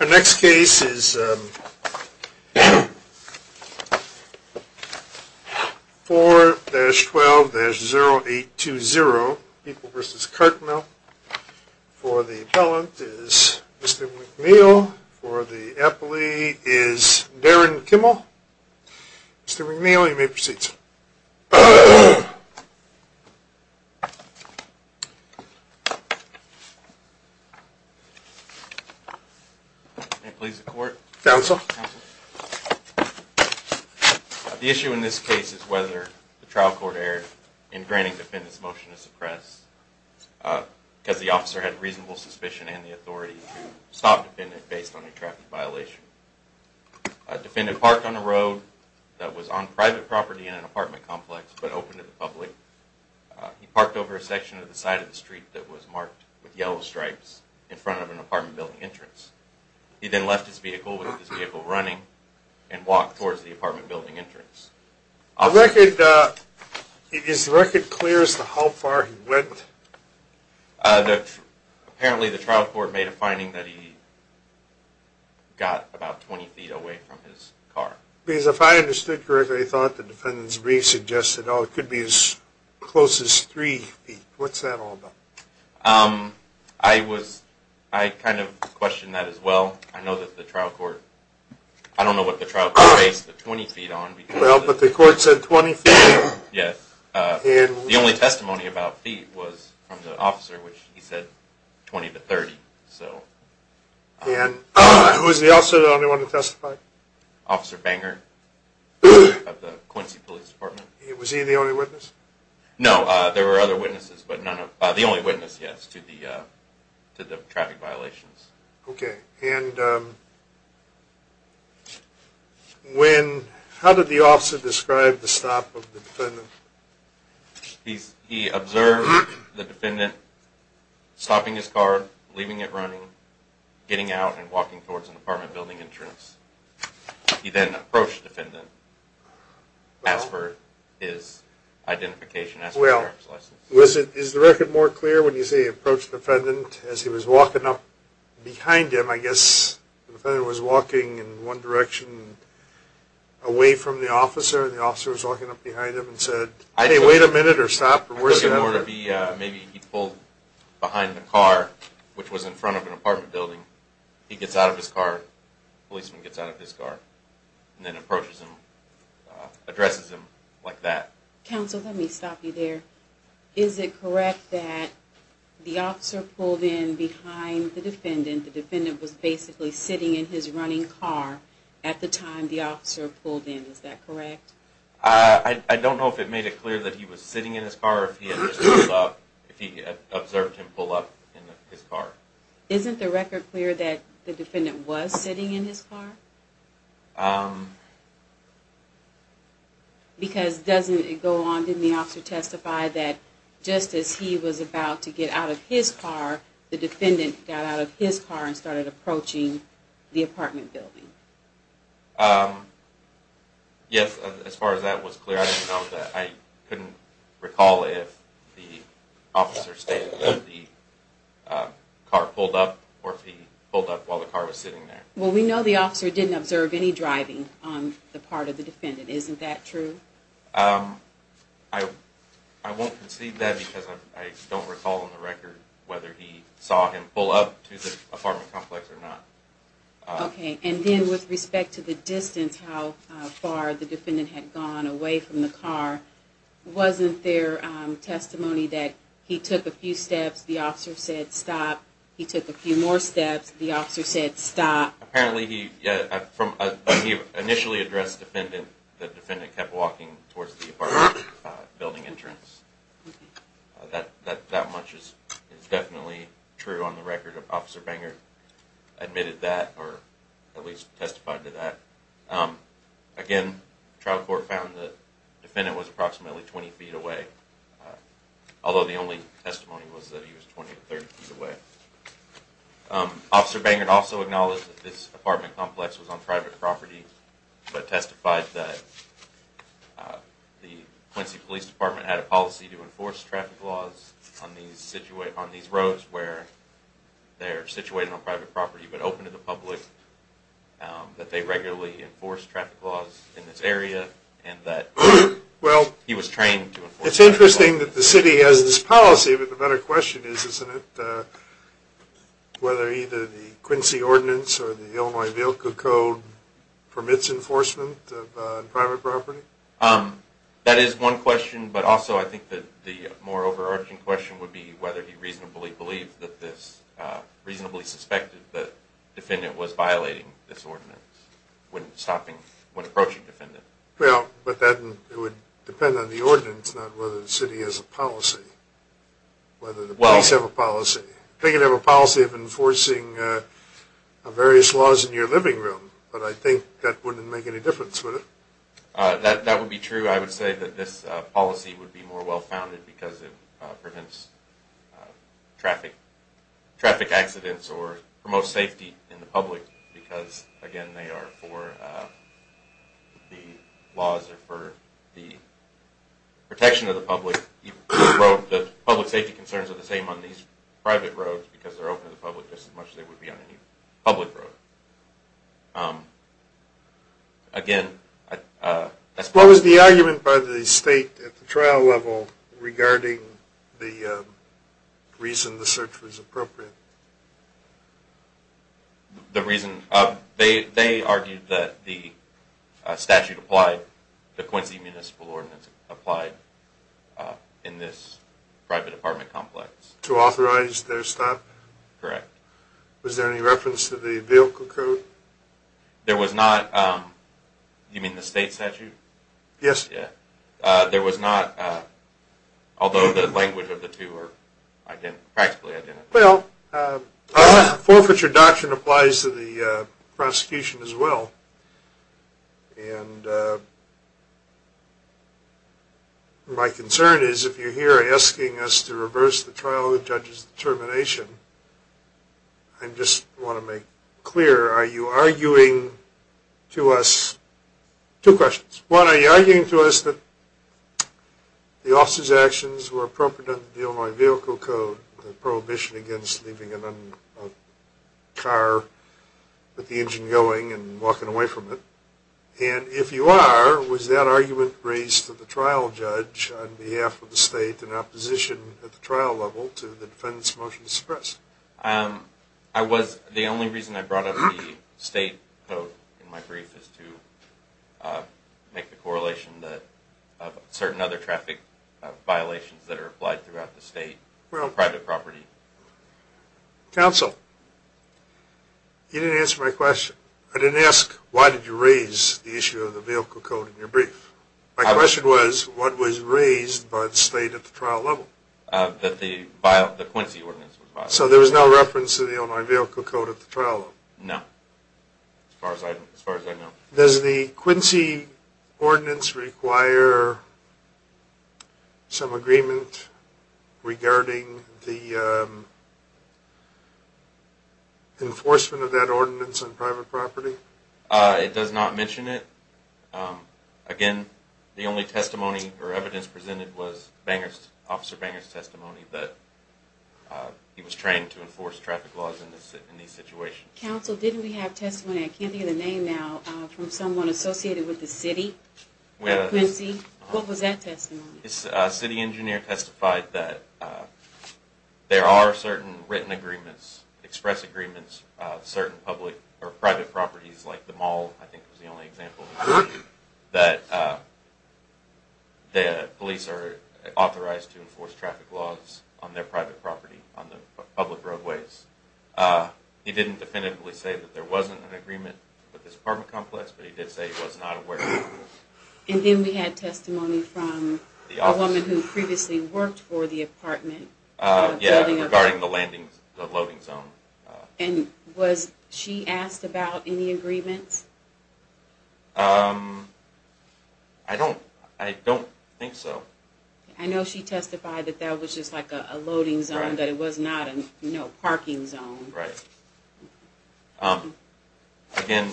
Our next case is 4-12-0820, People v. Cartmill. For the appellant is Mr. McNeil. For the appellee is Darren Kimmel. Mr. McNeil, you may proceed, sir. Counsel. The issue in this case is whether the trial court erred in granting defendants motion to suppress because the officer had reasonable suspicion and the authority to stop the defendant based on a traffic violation. The defendant parked on a road that was on private property in an apartment complex but open to the public. He parked over a section of the side of the street that was marked with yellow stripes in front of an apartment building entrance. He then left his vehicle with his vehicle running and walked towards the apartment building entrance. Is the record clear as to how far he went? Apparently the trial court made a finding that he got about 20 feet away from his car. Because if I understood correctly, they thought the defendant's brief suggested it could be as close as 3 feet. What's that all about? I kind of questioned that as well. I know that the trial court, I don't know what the trial court based the 20 feet on. Well, but the court said 20 feet. Yes. The only testimony about feet was from the officer, which he said 20 to 30. And who was the officer that only wanted to testify? Officer Banger of the Quincy Police Department. Was he the only witness? No, there were other witnesses, but the only witness, yes, to the traffic violations. Okay, and when, how did the officer describe the stop of the defendant? He observed the defendant stopping his car, leaving it running, getting out, and walking towards an apartment building entrance. He then approached the defendant, asked for his identification, asked for his parent's license. Was it, is the record more clear when you say he approached the defendant as he was walking up behind him, I guess? The defendant was walking in one direction away from the officer, and the officer was walking up behind him and said, Hey, wait a minute, or stop, or worse than ever. I think it would be maybe he pulled behind the car, which was in front of an apartment building. He gets out of his car, the policeman gets out of his car, and then approaches him, addresses him like that. Counsel, let me stop you there. Is it correct that the officer pulled in behind the defendant? The defendant was basically sitting in his running car at the time the officer pulled in. Is that correct? I don't know if it made it clear that he was sitting in his car or if he observed him pull up in his car. Isn't the record clear that the defendant was sitting in his car? Because doesn't it go on, didn't the officer testify that just as he was about to get out of his car, the defendant got out of his car and started approaching the apartment building? Yes, as far as that was clear, I didn't know that. I couldn't recall if the officer stated that the car pulled up or if he pulled up while the car was sitting there. Well, we know the officer didn't observe any driving on the part of the defendant, isn't that true? I won't concede that because I don't recall on the record whether he saw him pull up to the apartment complex or not. Okay, and then with respect to the distance, how far the defendant had gone away from the car, wasn't there testimony that he took a few steps, the officer said stop, he took a few more steps, the officer said stop? Apparently he initially addressed the defendant, the defendant kept walking towards the apartment building entrance. That much is definitely true on the record. Officer Banger admitted that or at least testified to that. Again, trial court found the defendant was approximately 20 feet away, although the only testimony was that he was 20 or 30 feet away. Officer Banger also acknowledged that this apartment complex was on private property but testified that the Quincy Police Department had a policy to enforce traffic laws on these roads where they are situated on private property but open to the public, that they regularly enforce traffic laws in this area and that he was trained to enforce traffic laws. It's interesting that the city has this policy, but the better question is, isn't it, whether either the Quincy Ordinance or the Illinois VILCA Code permits enforcement on private property? That is one question, but also I think that the more overarching question would be whether he reasonably believed that this, reasonably suspected that the defendant was violating this ordinance when stopping, when approaching the defendant. Well, but that would depend on the ordinance, not whether the city has a policy, whether the police have a policy. They could have a policy of enforcing various laws in your living room, but I think that wouldn't make any difference, would it? That would be true. I would say that this policy would be more well-founded because it prevents traffic accidents or promotes safety in the public because, again, they are for the laws or for the protection of the public. The public safety concerns are the same on these private roads because they're open to the public just as much as they would be on any public road. Again, I suppose... What was the argument by the state at the trial level regarding the reason the search was appropriate? The reason? They argued that the statute applied, the Quincy Municipal Ordinance applied in this private apartment complex. To authorize their stop? Correct. Was there any reference to the vehicle code? There was not. You mean the state statute? Yes. There was not, although the language of the two are practically identical. Well, forfeiture doctrine applies to the prosecution as well, and my concern is if you're here asking us to reverse the trial judge's determination, I just want to make clear, are you arguing to us... Two questions. One, are you arguing to us that the officer's actions were appropriate under the Illinois Vehicle Code under the prohibition against leaving a car with the engine going and walking away from it? And if you are, was that argument raised to the trial judge on behalf of the state in opposition at the trial level to the defendant's motion to suppress? The only reason I brought up the state code in my brief is to make the correlation of certain other traffic violations that are applied throughout the state on private property. Counsel, you didn't answer my question. I didn't ask, why did you raise the issue of the vehicle code in your brief? My question was, what was raised by the state at the trial level? That the Quincy Ordinance was violated. So there was no reference to the Illinois Vehicle Code at the trial level? No, as far as I know. Does the Quincy Ordinance require some agreement regarding the enforcement of that ordinance on private property? It does not mention it. Again, the only testimony or evidence presented was Officer Banger's testimony, but he was trained to enforce traffic laws in these situations. Counsel, didn't we have testimony, I can't hear the name now, from someone associated with the city? Quincy, what was that testimony? A city engineer testified that there are certain written agreements, express agreements, certain public or private properties, like the mall I think was the only example, that the police are authorized to enforce traffic laws on their private property, on the public roadways. He didn't definitively say that there wasn't an agreement with this apartment complex, but he did say he was not aware of it. And then we had testimony from a woman who previously worked for the apartment building? Yeah, regarding the loading zone. And was she asked about any agreements? I don't think so. I know she testified that that was just like a loading zone, that it was not a parking zone. Right. Again,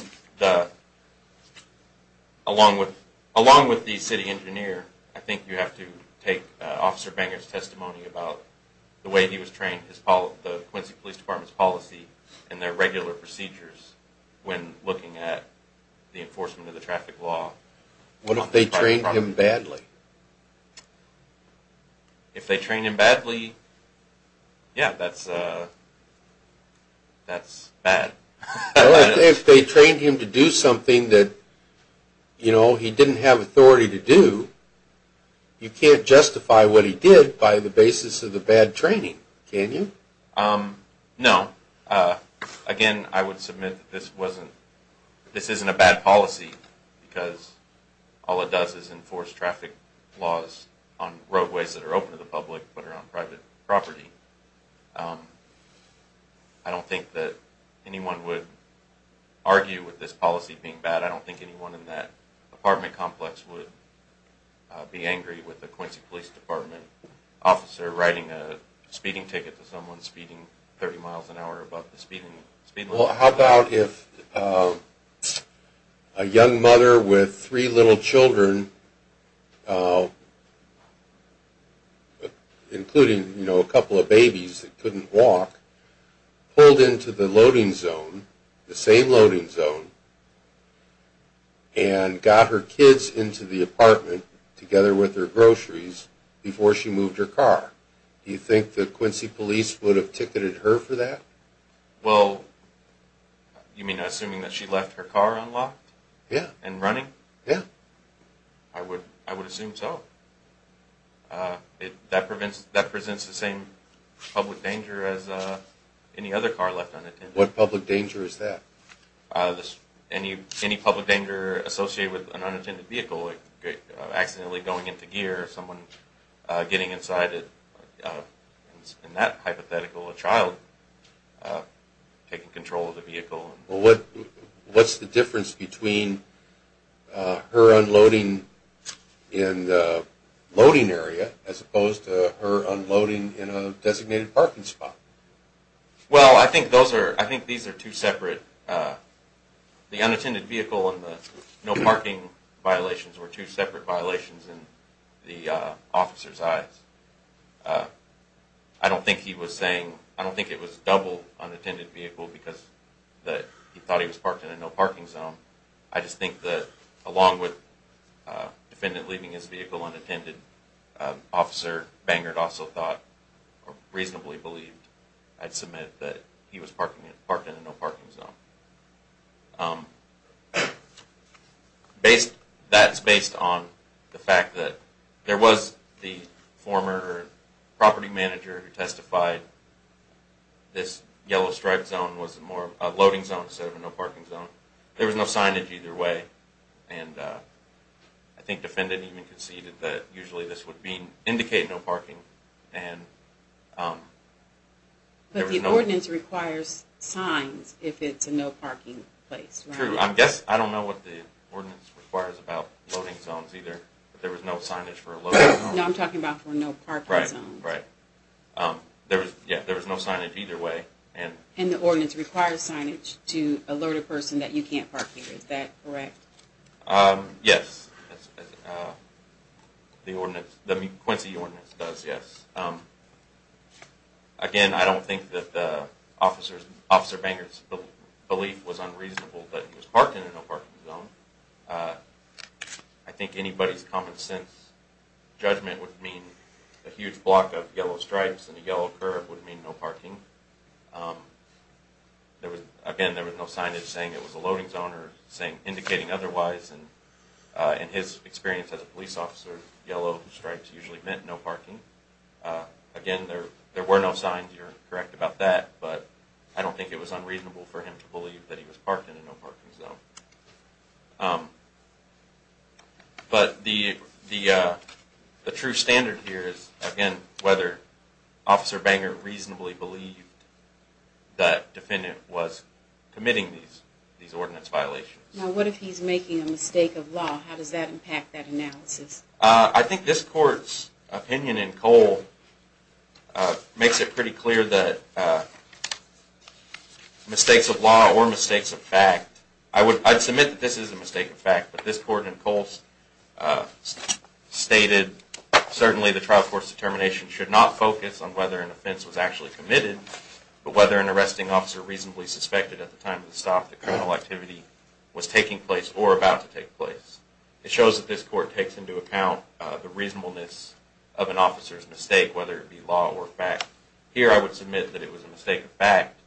along with the city engineer, I think you have to take Officer Banger's testimony about the way he was trained, the Quincy Police Department's policy and their regular procedures when looking at the enforcement of the traffic law. What if they trained him badly? If they trained him badly, yeah, that's bad. If they trained him to do something that he didn't have authority to do, you can't justify what he did by the basis of the bad training, can you? No. Again, I would submit that this isn't a bad policy because all it does is enforce traffic laws on roadways that are open to the public but are on private property. I don't think that anyone would argue with this policy being bad. I don't think anyone in that apartment complex would be angry with a Quincy Police Department officer riding a speeding ticket to someone speeding 30 miles an hour above the speed limit. Well, how about if a young mother with three little children, including a couple of babies that couldn't walk, pulled into the loading zone, the same loading zone, and got her kids into the apartment together with her groceries before she moved her car? Do you think that Quincy Police would have ticketed her for that? Well, you mean assuming that she left her car unlocked? Yeah. And running? Yeah. I would assume so. That presents the same public danger as any other car left unattended. What public danger is that? Any public danger associated with an unattended vehicle, like accidentally going into gear, someone getting inside in that hypothetical, a child taking control of the vehicle. Well, what's the difference between her unloading in the loading area as opposed to her unloading in a designated parking spot? Well, I think these are two separate, the unattended vehicle and the no parking violations were two separate violations in the officer's eyes. I don't think he was saying, I don't think it was a double unattended vehicle because he thought he was parked in a no parking zone. I just think that along with the defendant leaving his vehicle unattended, Officer Bangert also thought, or reasonably believed, I'd submit that he was parked in a no parking zone. That's based on the fact that there was the former property manager who testified this yellow striped zone was a loading zone instead of a no parking zone. There was no signage either way. I think the defendant even conceded that usually this would indicate no parking. But the ordinance requires signs if it's a no parking place, right? True. I guess, I don't know what the ordinance requires about loading zones either, but there was no signage for a loading zone. No, I'm talking about for no parking zones. Right, right. There was no signage either way. And the ordinance requires signage to alert a person that you can't park here. Is that correct? Yes. The Quincy Ordinance does, yes. Again, I don't think that Officer Bangert's belief was unreasonable that he was parked in a no parking zone. I think anybody's common sense judgment would mean a huge block of yellow stripes and a yellow curve would mean no parking. Again, there was no signage saying it was a loading zone or indicating otherwise. And in his experience as a police officer, yellow stripes usually meant no parking. Again, there were no signs. You're correct about that. But I don't think it was unreasonable for him to believe that he was parked in a no parking zone. But the true standard here is, again, whether Officer Bangert reasonably believed that the defendant was committing these ordinance violations. Now, what if he's making a mistake of law? How does that impact that analysis? I think this Court's opinion in Cole makes it pretty clear that mistakes of law or mistakes of fact... I'd submit that this is a mistake of fact, but this Court in Cole stated, certainly the trial court's determination should not focus on whether an offense was actually committed, but whether an arresting officer reasonably suspected at the time of the stop that criminal activity was taking place or about to take place. It shows that this Court takes into account the reasonableness of an officer's mistake, whether it be law or fact. Here I would submit that it was a mistake of fact.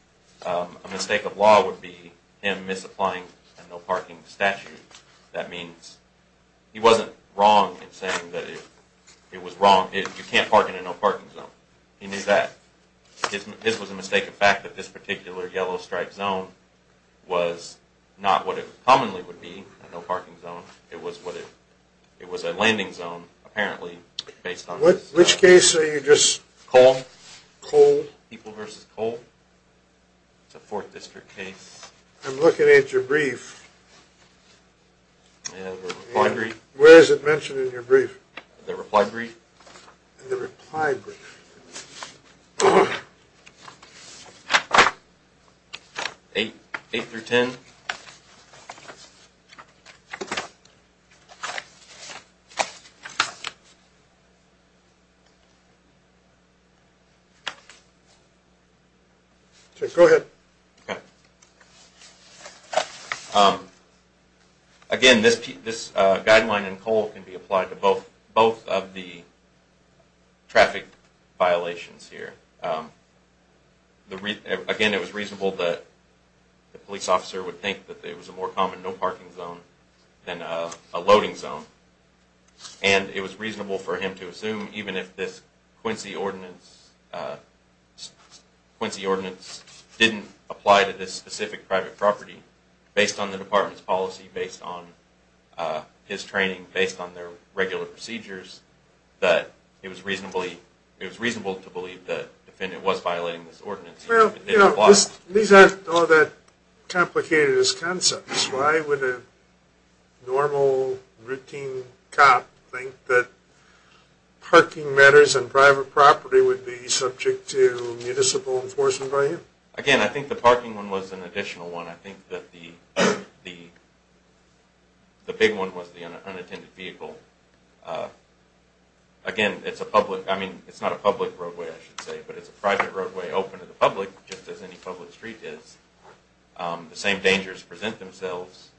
A mistake of law would be him misapplying a no parking statute. That means he wasn't wrong in saying that it was wrong. You can't park in a no parking zone. He knew that. This was a mistake of fact, that this particular yellow stripe zone was not what it commonly would be, a no parking zone. It was a landing zone, apparently, based on... Which case are you just... Cole. Cole. People v. Cole. It's a 4th District case. I'm looking at your brief. I have a reply brief. Where is it mentioned in your brief? The reply brief. The reply brief. 8 through 10. Go ahead. Okay. Again, this guideline in Cole can be applied to both of the traffic violations here. Again, it was reasonable that the police officer would think that it was a more common no parking zone than a loading zone. And it was reasonable for him to assume even if this Quincy ordinance didn't apply to this specific private property, based on the department's policy, based on his training, based on their regular procedures, that it was reasonable to believe that the defendant was violating this ordinance. Well, these aren't all that complicated as concepts. Why would a normal routine cop think that parking matters on private property would be subject to municipal enforcement by you? Again, I think the parking one was an additional one. I think that the big one was the unattended vehicle. Again, it's a public, I mean, it's not a public roadway, I should say, but it's a private roadway open to the public, just as any public street is. The same dangers present themselves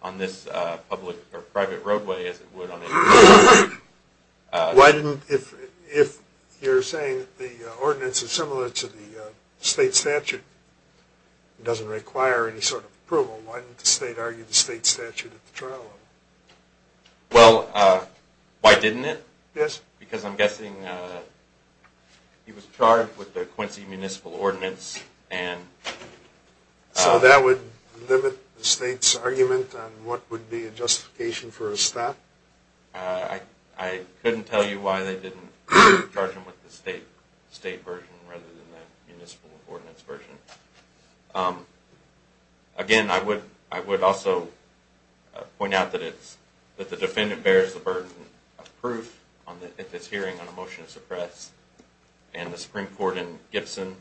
on this public or private roadway as it would on a... Why didn't, if you're saying the ordinance is similar to the state statute, it doesn't require any sort of approval, why didn't the state argue the state statute at the trial level? Well, why didn't it? Yes. Because I'm guessing he was charged with the Quincy Municipal Ordinance and... So that would limit the state's argument on what would be a justification for a stat? I couldn't tell you why they didn't charge him with the state version rather than the municipal ordinance version. Again, I would also point out that the defendant bears the burden of proof on this hearing on a motion to suppress, and the Supreme Court in Gibson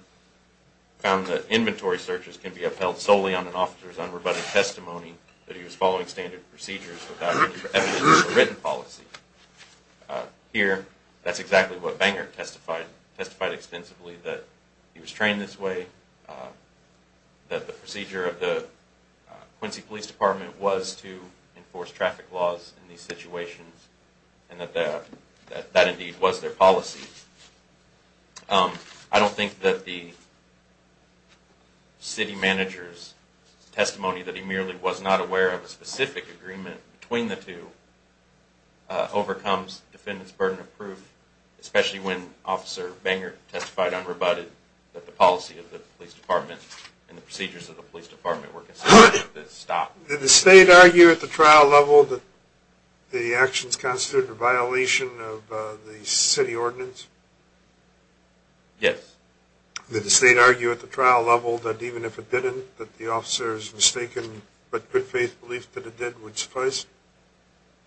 found that inventory searches can be upheld solely on an officer's unrebutted testimony that he was following standard procedures without evidence of written policy. Here, that's exactly what Banger testified, testified extensively that he was trained this way, that the procedure of the Quincy Police Department was to enforce traffic laws in these situations, and that that indeed was their policy. I don't think that the city manager's testimony that he merely was not aware of a specific agreement between the two overcomes the defendant's burden of proof, especially when Officer Banger testified unrebutted that the policy of the police department and the procedures of the police department were considered to stop. Did the state argue at the trial level that the actions constituted a violation of the city ordinance? Yes. Did the state argue at the trial level that even if it didn't, that the officer's mistaken but good faith belief that it did would suffice?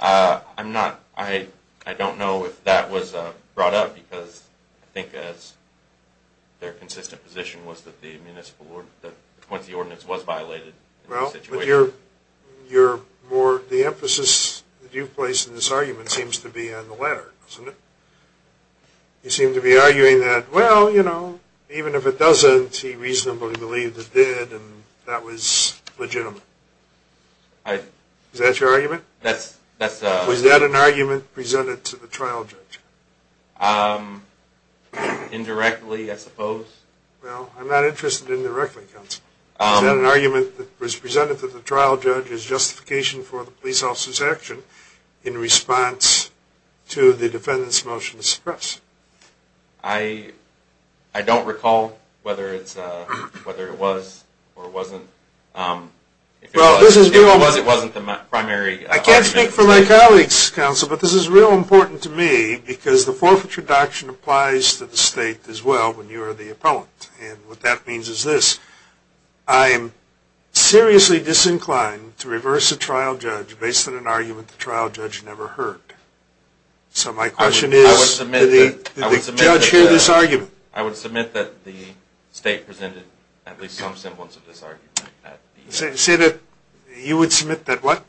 I'm not, I don't know if that was brought up because I think as their consistent position was that the municipal ordinance, that the Quincy ordinance was violated. Well, but you're more, the emphasis that you've placed in this argument seems to be on the latter, doesn't it? You seem to be arguing that, well, you know, even if it doesn't, he reasonably believed it did and that was legitimate. Is that your argument? Was that an argument presented to the trial judge? Indirectly, I suppose. Well, I'm not interested indirectly, counsel. Was that an argument that was presented to the trial judge as justification for the police officer's action in response to the defendant's motion to suppress? I don't recall whether it was or wasn't. If it was, it wasn't the primary argument. I can't speak for my colleagues, counsel, but this is real important to me because the forfeiture doctrine applies to the state as well when you are the appellant. And what that means is this. I am seriously disinclined to reverse a trial judge based on an argument the trial judge never heard. So my question is, did the judge hear this argument? I would submit that the state presented at least some semblance of this argument. Say that you would submit that what?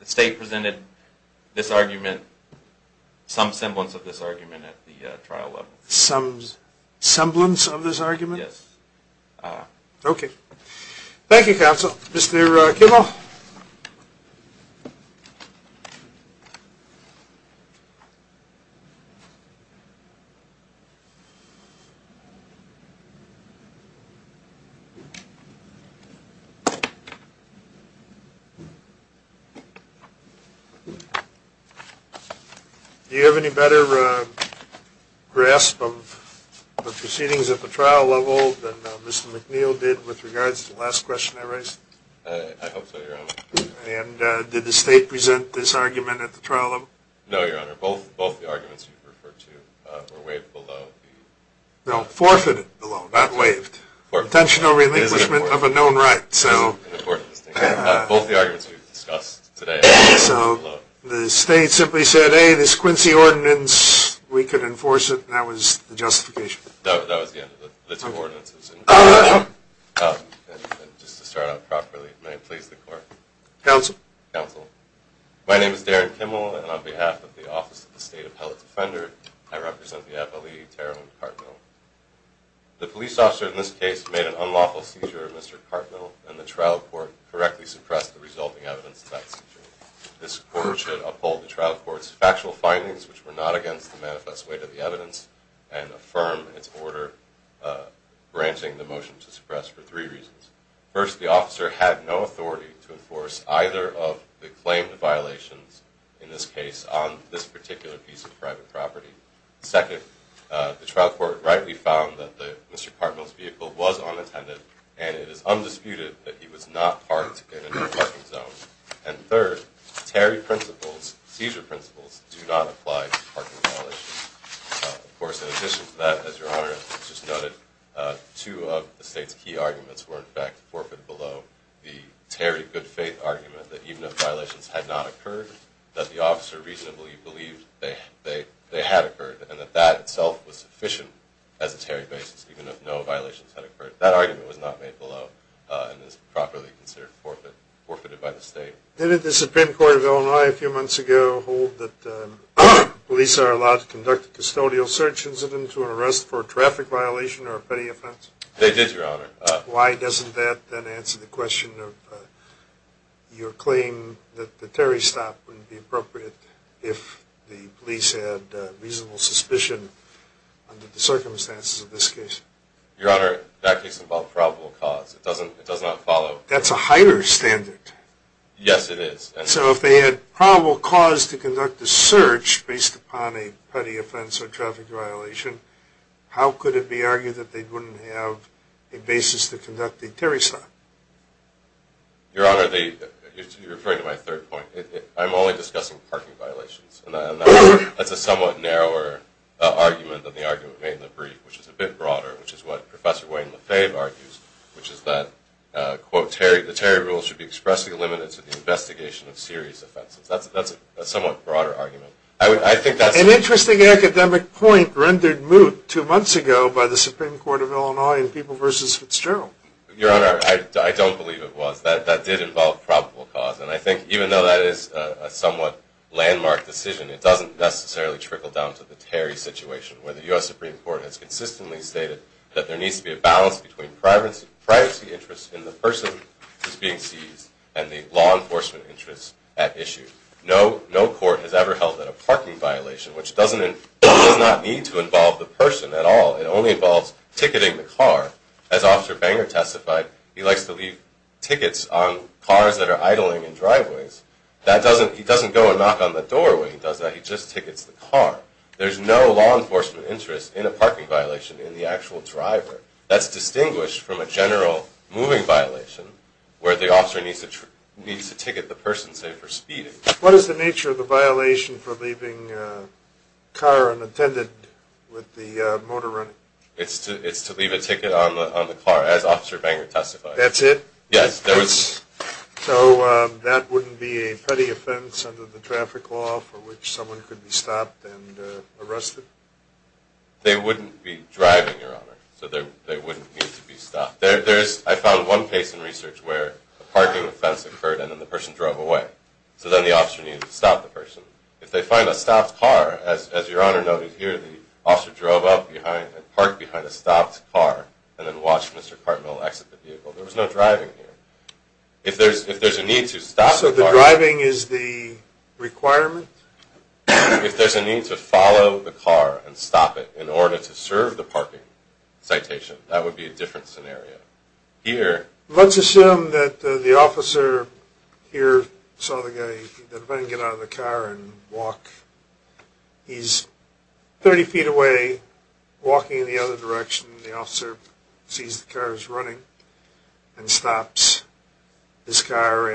The state presented this argument, some semblance of this argument at the trial level. Some semblance of this argument? Yes. Okay. Thank you, counsel. Mr. Kimmel? Do you have any better grasp of the proceedings at the trial level than Mr. McNeil did with regards to the last question I raised? I hope so, Your Honor. And did the state present this argument at the trial level? No, Your Honor. Both the arguments you've referred to were waived below. No, forfeited below, not waived. Intentional relinquishment of a known right. Both the arguments we've discussed today were waived below. So the state simply said, hey, this Quincy Ordinance, we could enforce it, and that was the justification? No, that was the end of it. The two ordinances. And just to start out properly, may it please the Court. Counsel. Counsel. My name is Darren Kimmel, and on behalf of the Office of the State Appellate Defender, I represent the FLE Terrell and Cartmill. The police officer in this case made an unlawful seizure of Mr. Cartmill, and the trial court correctly suppressed the resulting evidence of that seizure. which were not against the manifest weight of the evidence, and affirm its order branching the motion to suppress for three reasons. First, the officer had no authority to enforce either of the claimed violations, in this case, on this particular piece of private property. Second, the trial court rightly found that Mr. Cartmill's vehicle was unattended, and it is undisputed that he was not parked in a parking zone. And third, Terry principles, seizure principles, do not apply to parking violations. Of course, in addition to that, as Your Honor just noted, two of the State's key arguments were, in fact, forfeit below. The Terry good faith argument, that even if violations had not occurred, that the officer reasonably believed they had occurred, and that that itself was sufficient as a Terry basis, even if no violations had occurred. That argument was not made below, and is properly considered forfeited by the State. Didn't the Supreme Court of Illinois, a few months ago, hold that police are allowed to conduct a custodial search incident to arrest for a traffic violation or a petty offense? They did, Your Honor. Why doesn't that then answer the question of your claim that the Terry stop wouldn't be appropriate if the police had reasonable suspicion under the circumstances of this case? Your Honor, that case involved probable cause. It does not follow. That's a Heider standard. Yes, it is. So if they had probable cause to conduct a search based upon a petty offense or traffic violation, how could it be argued that they wouldn't have a basis to conduct a Terry stop? Your Honor, you're referring to my third point. I'm only discussing parking violations, and that's a somewhat narrower argument than the argument made in the brief, which is a bit broader, which is what Professor Wayne Lefebvre argues, which is that, quote, the Terry rule should be expressly limited to the investigation of serious offenses. That's a somewhat broader argument. An interesting academic point rendered moot two months ago by the Supreme Court of Illinois in People v. Fitzgerald. Your Honor, I don't believe it was. That did involve probable cause, and I think even though that is a somewhat landmark decision, it doesn't necessarily trickle down to the Terry situation, where the U.S. Supreme Court has consistently stated that there needs to be a balance between privacy interests in the person who's being seized and the law enforcement interests at issue. No court has ever held that a parking violation, which does not need to involve the person at all. It only involves ticketing the car. As Officer Banger testified, he likes to leave tickets on cars that are idling in driveways. He doesn't go and knock on the doorway. He does that. He just tickets the car. There's no law enforcement interest in a parking violation in the actual driver. That's distinguished from a general moving violation where the officer needs to ticket the person, say, for speeding. What is the nature of the violation for leaving a car unattended with the motor running? It's to leave a ticket on the car, as Officer Banger testified. That's it? Yes. So that wouldn't be a petty offense under the traffic law for which someone could be stopped and arrested? They wouldn't be driving, Your Honor, so they wouldn't need to be stopped. I found one case in research where a parking offense occurred and then the person drove away, so then the officer needed to stop the person. If they find a stopped car, as Your Honor noted here, the officer drove up behind and parked behind a stopped car and then watched Mr. Cartmill exit the vehicle. There was no driving here. If there's a need to stop the car— So the driving is the requirement? If there's a need to follow the car and stop it in order to serve the parking citation, that would be a different scenario. Here— Let's assume that the officer here saw the guy get out of the car and walk. He's 30 feet away, walking in the other direction. The officer sees the car is running and stops his car.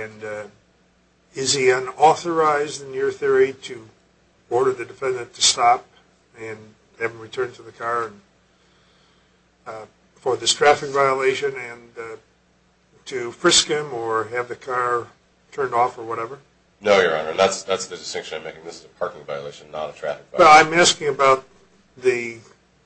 Is he unauthorized, in your theory, to order the defendant to stop and have him return to the car for this traffic violation and to frisk him or have the car turned off or whatever? No, Your Honor. That's the distinction I'm making. This is a parking violation, not a traffic violation. Well, I'm asking about the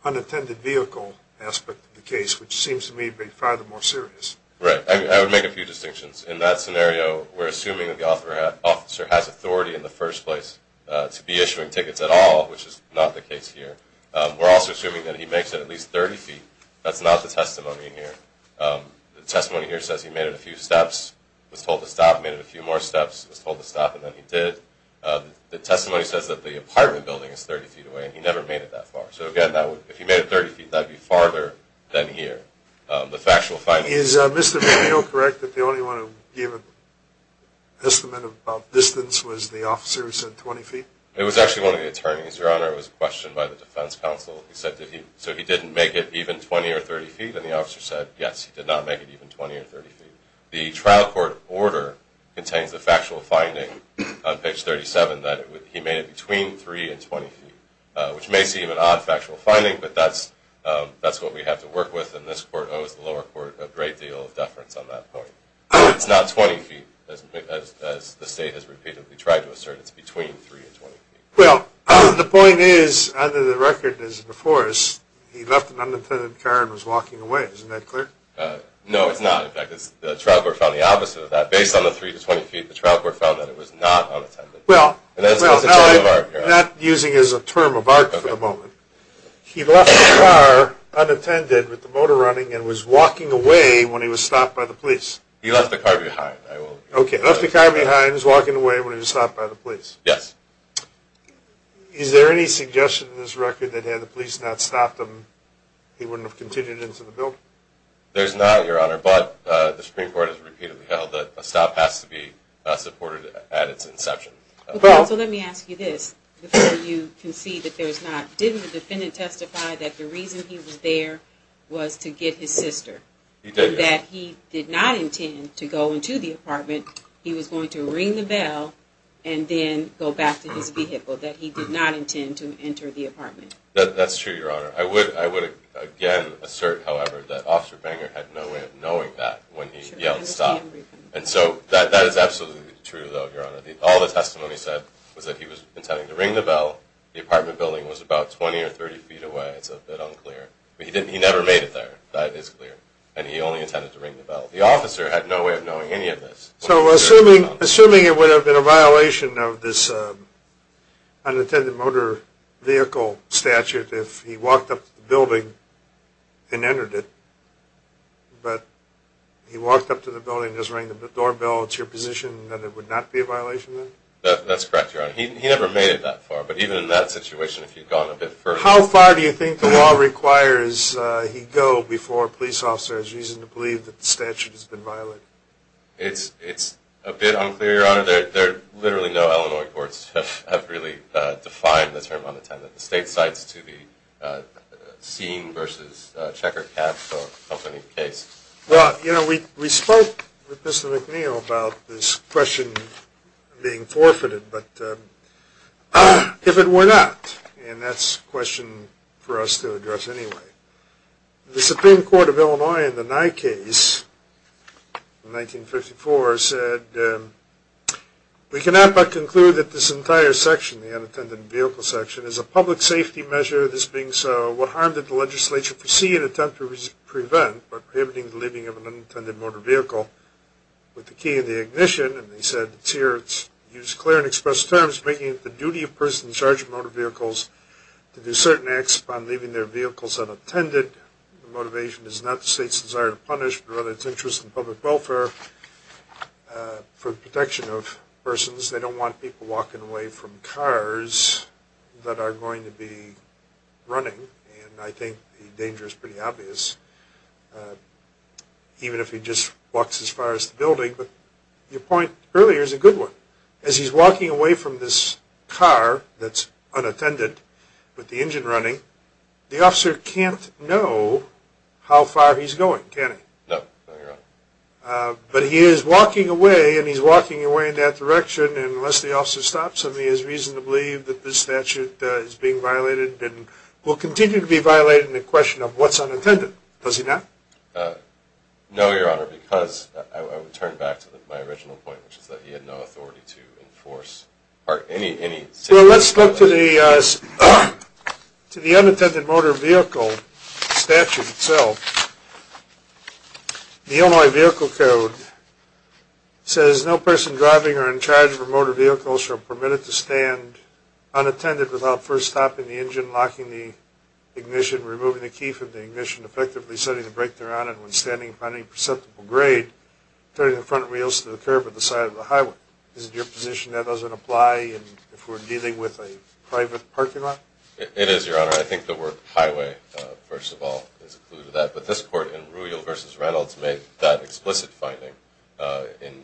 unattended vehicle aspect of the case, which seems to me to be far more serious. Right. I would make a few distinctions. In that scenario, we're assuming that the officer has authority in the first place to be issuing tickets at all, which is not the case here. We're also assuming that he makes it at least 30 feet. That's not the testimony here. The testimony here says he made it a few steps, was told to stop, made it a few more steps, was told to stop, and then he did. The testimony says that the apartment building is 30 feet away, and he never made it that far. So, again, if he made it 30 feet, that would be farther than here. The factual finding… Is Mr. Viglio correct that the only one who gave an estimate of distance was the officer who said 20 feet? It was actually one of the attorneys, Your Honor. It was a question by the defense counsel. So he didn't make it even 20 or 30 feet, and the officer said, yes, he did not make it even 20 or 30 feet. The trial court order contains the factual finding on page 37 that he made it between 3 and 20 feet, which may seem an odd factual finding, but that's what we have to work with, and this court owes the lower court a great deal of deference on that point. It's not 20 feet, as the state has repeatedly tried to assert. It's between 3 and 20 feet. Well, the point is, under the record as before, is he left an unintended car and was walking away. Isn't that clear? No, it's not. In fact, the trial court found the opposite of that. Based on the 3 to 20 feet, the trial court found that it was not unattended. Well, not using as a term of art for the moment, he left the car unattended with the motor running and was walking away when he was stopped by the police. He left the car behind. Okay, left the car behind, was walking away when he was stopped by the police. Yes. Is there any suggestion in this record that had the police not stopped him, he wouldn't have continued into the building? There's not, Your Honor, but the Supreme Court has repeatedly held that a stop has to be supported at its inception. Okay, so let me ask you this before you concede that there's not. Didn't the defendant testify that the reason he was there was to get his sister? He did, yes. And that he did not intend to go into the apartment. He was going to ring the bell and then go back to his vehicle, that he did not intend to enter the apartment. That's true, Your Honor. I would, again, assert, however, that Officer Banger had no way of knowing that when he yelled stop. And so that is absolutely true, though, Your Honor. All the testimony said was that he was intending to ring the bell. The apartment building was about 20 or 30 feet away. It's a bit unclear. But he never made it there. That is clear. And he only intended to ring the bell. The officer had no way of knowing any of this. So assuming it would have been a violation of this vehicle statute if he walked up to the building and entered it, but he walked up to the building and just rang the doorbell, it's your position that it would not be a violation then? That's correct, Your Honor. He never made it that far. But even in that situation, if he had gone a bit further. How far do you think the law requires he go before a police officer has reason to believe that the statute has been violated? It's a bit unclear, Your Honor. There are literally no Illinois courts that have really defined the term unattended. The state cites to be seen versus check or cap for any case. Well, you know, we spoke with Mr. McNeil about this question being forfeited. But if it were not, and that's a question for us to address anyway, the Supreme Court of Illinois in the Nye case in 1954 said, we cannot but conclude that this entire section, the unattended vehicle section, is a public safety measure. This being so, what harm did the legislature foresee and attempt to prevent by prohibiting the leaving of an unattended motor vehicle with the key in the ignition? And they said it's here, it's used clear and express terms, making it the duty of persons in charge of motor vehicles to do certain acts upon leaving their vehicles unattended. The motivation is not the state's desire to punish, rather it's interest in public welfare for the protection of persons. They don't want people walking away from cars that are going to be running. And I think the danger is pretty obvious, even if he just walks as far as the building. But your point earlier is a good one. As he's walking away from this car that's unattended with the engine running, the officer can't know how far he's going, can he? No, no, Your Honor. But he is walking away, and he's walking away in that direction, and unless the officer stops him, he has reason to believe that this statute is being violated and will continue to be violated in the question of what's unattended, does he not? No, Your Honor, because I would turn back to my original point, which is that he had no authority to enforce any safety violation. Well, let's look to the unattended motor vehicle statute itself. The Illinois Vehicle Code says, no person driving or in charge of a motor vehicle shall permit it to stand unattended without first stopping the engine, locking the ignition, removing the key from the ignition, effectively setting the brake thereon, and when standing upon any perceptible grade, turning the front wheels to the curb at the side of the highway. Is it your position that doesn't apply if we're dealing with a private parking lot? It is, Your Honor. I think the word highway, first of all, is a clue to that. But this Court in Rubio v. Reynolds made that explicit finding in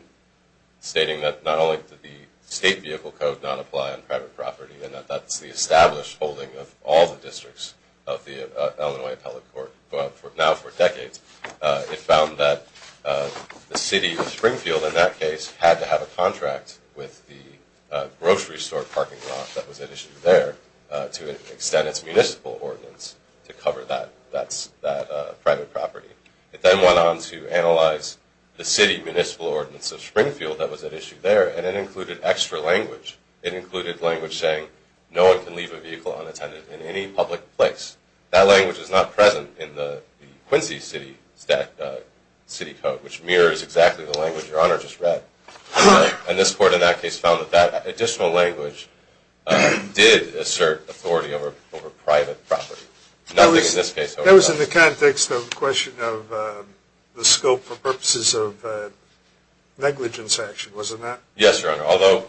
stating that not only did the state vehicle code not apply on private property and that that's the established holding of all the districts of the Illinois Appellate Court, but now for decades it found that the city of Springfield, in that case, had to have a contract with the grocery store parking lot that was at issue there to extend its municipal ordinance to cover that private property. It then went on to analyze the city municipal ordinance of Springfield that was at issue there, and it included extra language. It included language saying no one can leave a vehicle unattended in any public place. That language is not present in the Quincy City Code, which mirrors exactly the language Your Honor just read. And this Court in that case found that that additional language did assert authority over private property. Nothing in this case does. That was in the context of the question of the scope for purposes of negligence action, wasn't that? Yes, Your Honor. Although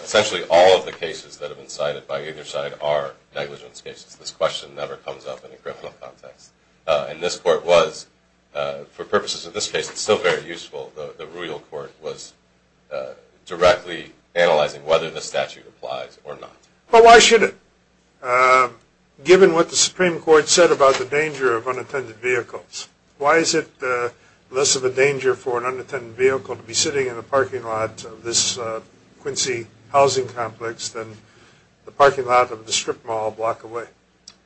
essentially all of the cases that have been cited by either side are negligence cases, this question never comes up in a criminal context. And this Court was, for purposes of this case, it's still very useful. The Rural Court was directly analyzing whether the statute applies or not. But why should it? Given what the Supreme Court said about the danger of unattended vehicles, why is it less of a danger for an unattended vehicle to be sitting in a parking lot of this Quincy housing complex than the parking lot of the strip mall a block away?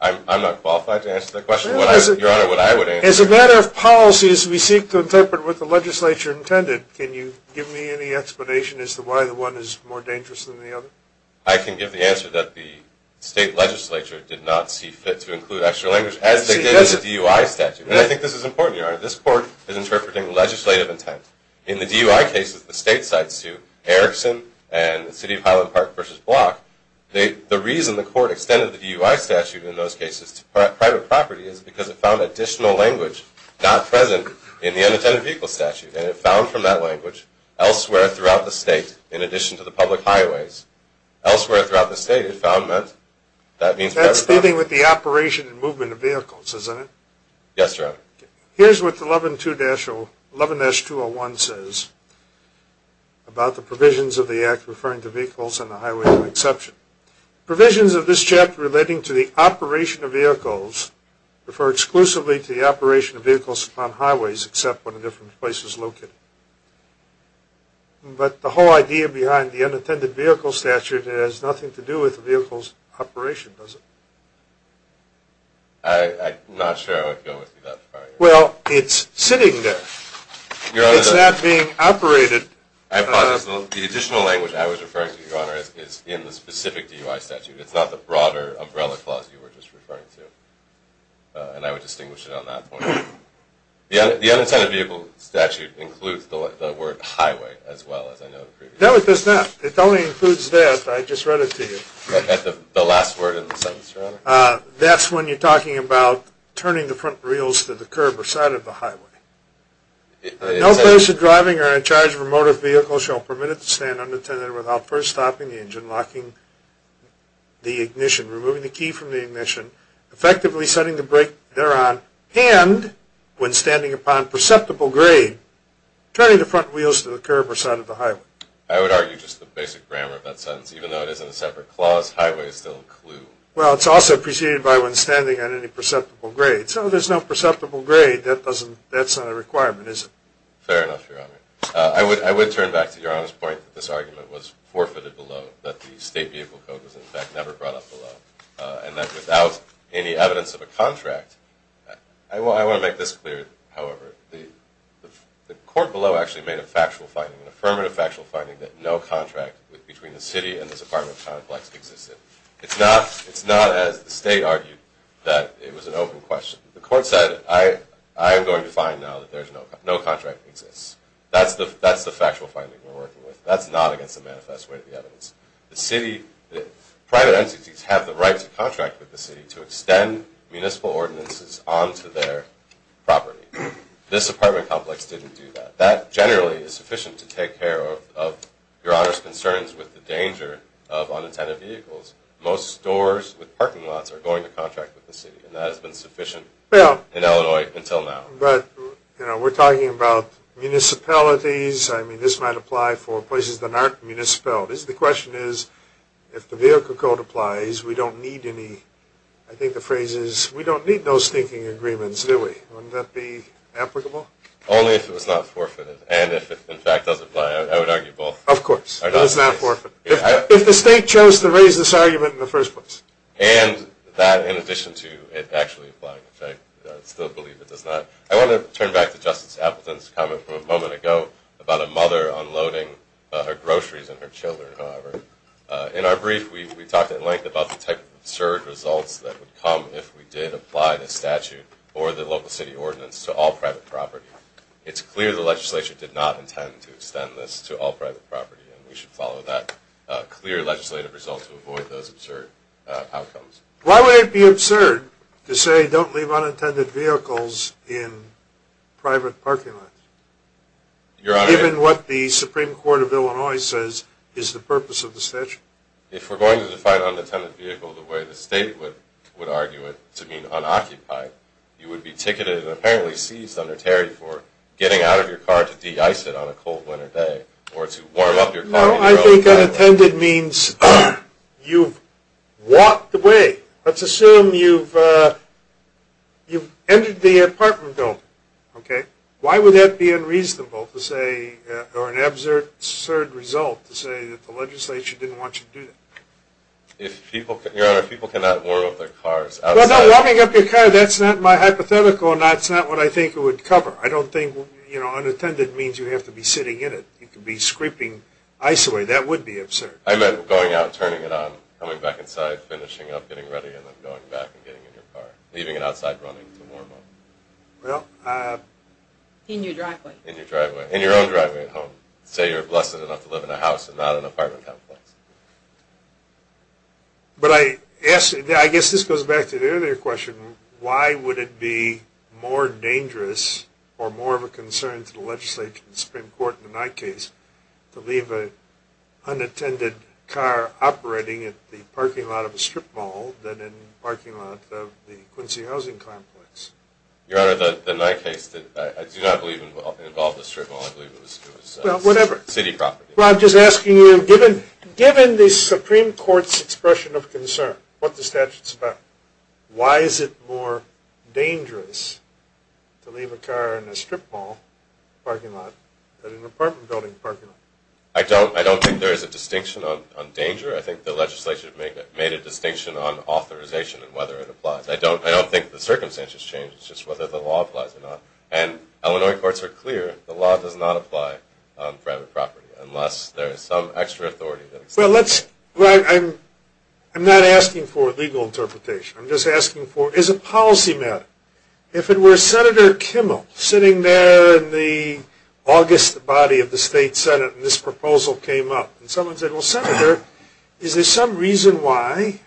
I'm not qualified to answer that question. Your Honor, what I would answer is... As a matter of policy, as we seek to interpret what the legislature intended, can you give me any explanation as to why the one is more dangerous than the other? I can give the answer that the state legislature did not see fit to include extra language, as they did in the DUI statute. And I think this is important, Your Honor. This Court is interpreting legislative intent. In the DUI cases, the stateside suit, Erickson and the City of Highland Park v. Block, the reason the Court extended the DUI statute in those cases to private property is because it found additional language not present in the unattended vehicle statute. And it found from that language, elsewhere throughout the state, in addition to the public highways. Elsewhere throughout the state, it found that... That's dealing with the operation and movement of vehicles, isn't it? Yes, Your Honor. Here's what 11-201 says about the provisions of the Act referring to vehicles on the highway as an exception. Provisions of this chapter relating to the operation of vehicles refer exclusively to the operation of vehicles on highways, except when a different place is located. But the whole idea behind the unattended vehicle statute has nothing to do with the vehicle's operation, does it? I'm not sure I would go with you that far, Your Honor. Well, it's sitting there. It's not being operated. I apologize. The additional language I was referring to, Your Honor, is in the specific DUI statute. It's not the broader umbrella clause you were just referring to. And I would distinguish it on that point. The unattended vehicle statute includes the word highway as well, as I noted previously. No, it does not. It only includes that. I just read it to you. The last word in the sentence, Your Honor. No person driving or in charge of a motor vehicle shall permit it to stand unattended without first stopping the engine, locking the ignition, removing the key from the ignition, effectively setting the brake thereon, and when standing upon perceptible grade, turning the front wheels to the curb or side of the highway. I would argue just the basic grammar of that sentence. Even though it is in a separate clause, highway is still a clue. Well, it's also preceded by when standing on any perceptible grade. So there's no perceptible grade. That's not a requirement, is it? Fair enough, Your Honor. I would turn back to Your Honor's point that this argument was forfeited below, that the state vehicle code was, in fact, never brought up below, and that without any evidence of a contract. I want to make this clear, however. The court below actually made a factual finding, an affirmative factual finding, that no contract between the city and this apartment complex existed. It's not, as the state argued, that it was an open question. The court said, I am going to find now that no contract exists. That's the factual finding we're working with. That's not against the manifest way of the evidence. The city, private entities have the right to contract with the city to extend municipal ordinances onto their property. This apartment complex didn't do that. That generally is sufficient to take care of Your Honor's concerns with the danger of unintended vehicles. Most stores with parking lots are going to contract with the city, and that has been sufficient in Illinois until now. But, you know, we're talking about municipalities. I mean, this might apply for places that aren't municipal. The question is, if the vehicle code applies, we don't need any, I think the phrase is, we don't need no stinking agreements, do we? Wouldn't that be applicable? Only if it was not forfeited, and if it, in fact, does apply. I would argue both. Of course. Does not forfeit. If the state chose to raise this argument in the first place. And that in addition to it actually applying, which I still believe it does not. I want to turn back to Justice Appleton's comment from a moment ago about a mother unloading her groceries and her children, however. In our brief, we talked at length about the type of absurd results that would come if we did apply the statute or the local city ordinance to all private property. It's clear the legislature did not intend to extend this to all private property, and we should follow that clear legislative result to avoid those absurd outcomes. Why would it be absurd to say don't leave unintended vehicles in private parking lots? Your Honor. Given what the Supreme Court of Illinois says is the purpose of the statute. If we're going to define unintended vehicle the way the state would argue it to mean unoccupied, you would be ticketed and apparently seized under Terry for getting out of your car to de-ice it on a cold winter day or to warm up your car. No, I think unintended means you've walked away. Let's assume you've entered the apartment building. Okay. Why would that be unreasonable to say or an absurd result to say that the legislature didn't want you to do that? Your Honor, people cannot warm up their cars outside. Well, no, warming up your car, that's not my hypothetical, and that's not what I think it would cover. I don't think, you know, unintended means you have to be sitting in it. You could be scraping ice away. That would be absurd. I meant going out and turning it on, coming back inside, finishing up, getting ready, and then going back and getting in your car, leaving it outside running to warm up. Well. In your driveway. In your driveway. In your own driveway at home. Say you're blessed enough to live in a house and not an apartment complex. But I guess this goes back to the earlier question, why would it be more dangerous or more of a concern to the legislature and the Supreme Court in my case to leave an unattended car operating at the parking lot of a strip mall than in the parking lot of the Quincy housing complex? Your Honor, in my case, I do not believe it involved a strip mall. I believe it was city property. Well, I'm just asking you, given the Supreme Court's expression of concern, what the statute's about, why is it more dangerous to leave a car in a strip mall parking lot than in an apartment building parking lot? I don't think there is a distinction on danger. I think the legislature made a distinction on authorization and whether it applies. I don't think the circumstances change. It's just whether the law applies or not. And Illinois courts are clear, the law does not apply on private property unless there is some extra authority. Well, I'm not asking for a legal interpretation. I'm just asking for, is it policy matter? If it were Senator Kimmel sitting there in the August body of the state Senate and this proposal came up, and someone said, well, Senator, is there some reason why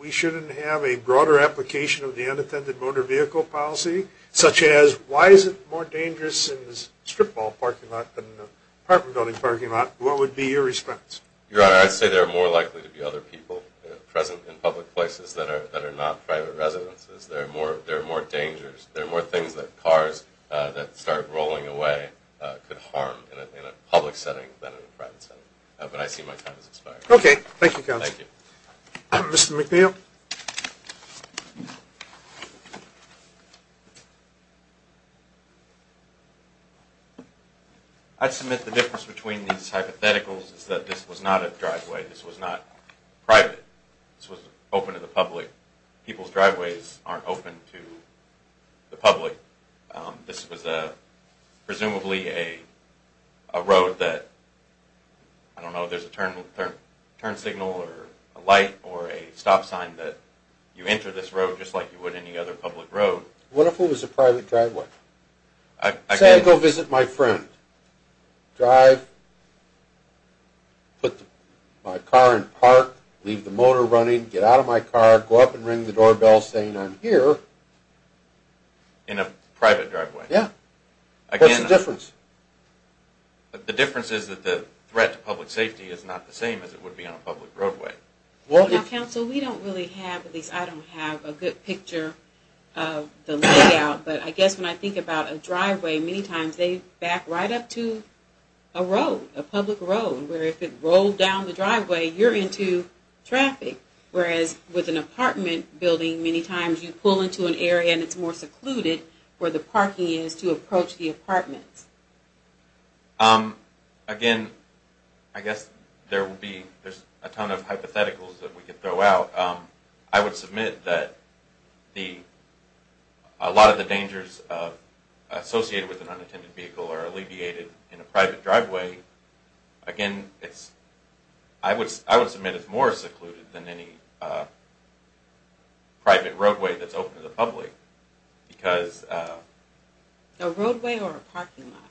we shouldn't have a broader application of the unattended motor vehicle policy, such as why is it more dangerous in a strip mall parking lot than an apartment building parking lot, what would be your response? Your Honor, I'd say there are more likely to be other people present in public places that are not private residences. There are more dangers. There are more things that cars that start rolling away could harm in a public setting than in a private setting. But I see my time has expired. Okay. Thank you, counsel. Thank you. Mr. McNeil? I'd submit the difference between these hypotheticals is that this was not a driveway. This was not private. This was open to the public. People's driveways aren't open to the public. This was presumably a road that, I don't know, there's a turn signal or a light or a stop sign that you enter this road just like you would any other public road. What if it was a private driveway? I'd say go visit my friend. Drive, put my car in park, leave the motor running, get out of my car, go up and ring the doorbell saying I'm here. In a private driveway? Yeah. What's the difference? The difference is that the threat to public safety is not the same as it would be on a public roadway. Now, counsel, we don't really have, at least I don't have, a good picture of the layout. But I guess when I think about a driveway, many times they back right up to a road, a public road, where if it rolled down the driveway, you're into traffic. Whereas with an apartment building, many times you pull into an area and it's more secluded where the parking is to approach the apartments. Again, I guess there will be, there's a ton of hypotheticals that we could throw out. I would submit that a lot of the dangers associated with an unattended vehicle are alleviated in a private driveway. Again, I would submit it's more secluded than any private roadway that's open to the public. A roadway or a parking lot?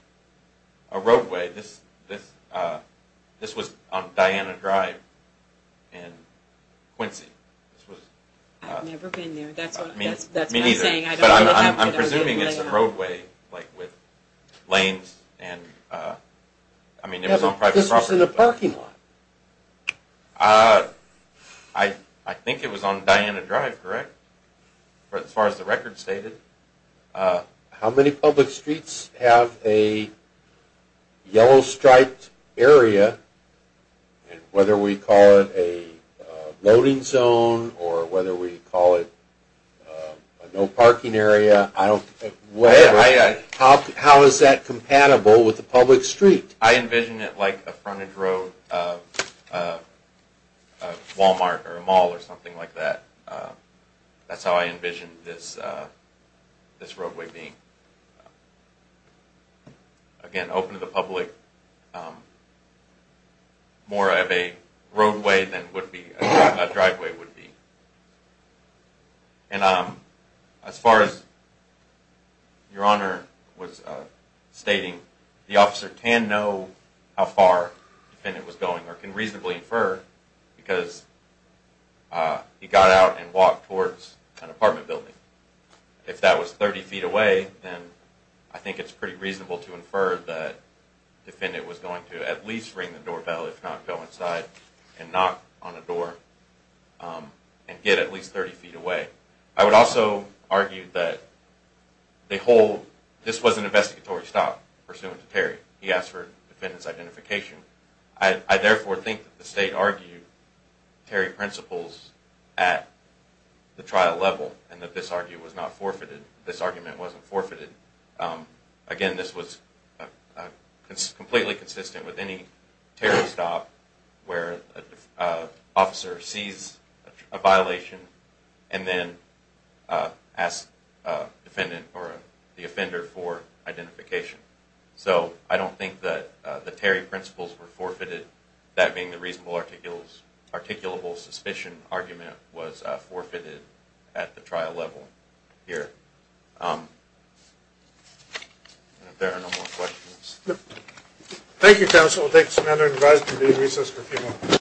A roadway. This was on Diana Drive in Quincy. I've never been there. That's what I'm saying. But I'm presuming it's a roadway, like with lanes and, I mean, it was on private property. This was in a parking lot. I think it was on Diana Drive, correct, as far as the record stated. How many public streets have a yellow striped area? And whether we call it a loading zone or whether we call it a no parking area, I don't, whatever. How is that compatible with a public street? I envision it like a frontage road, a Walmart or a mall or something like that. That's how I envision this roadway being. Again, open to the public, more of a roadway than would be, a driveway would be. And as far as Your Honor was stating, the officer can know how far the defendant was going or can reasonably infer because he got out and walked towards an apartment building. If that was 30 feet away, then I think it's pretty reasonable to infer that the defendant was going to at least ring the doorbell, if not go inside and knock on the door and get at least 30 feet away. I would also argue that this was an investigatory stop pursuant to Terry. He asked for the defendant's identification. I therefore think that the state argued Terry principles at the trial level and that this argument was not forfeited. This argument wasn't forfeited. Again, this was completely consistent with any Terry stop where an officer sees a violation and then asks the offender for identification. So I don't think that the Terry principles were forfeited. That being the reasonable, articulable suspicion argument was forfeited at the trial level here. If there are no more questions. Thank you, counsel. We'll take some other advice from the recess for a few moments.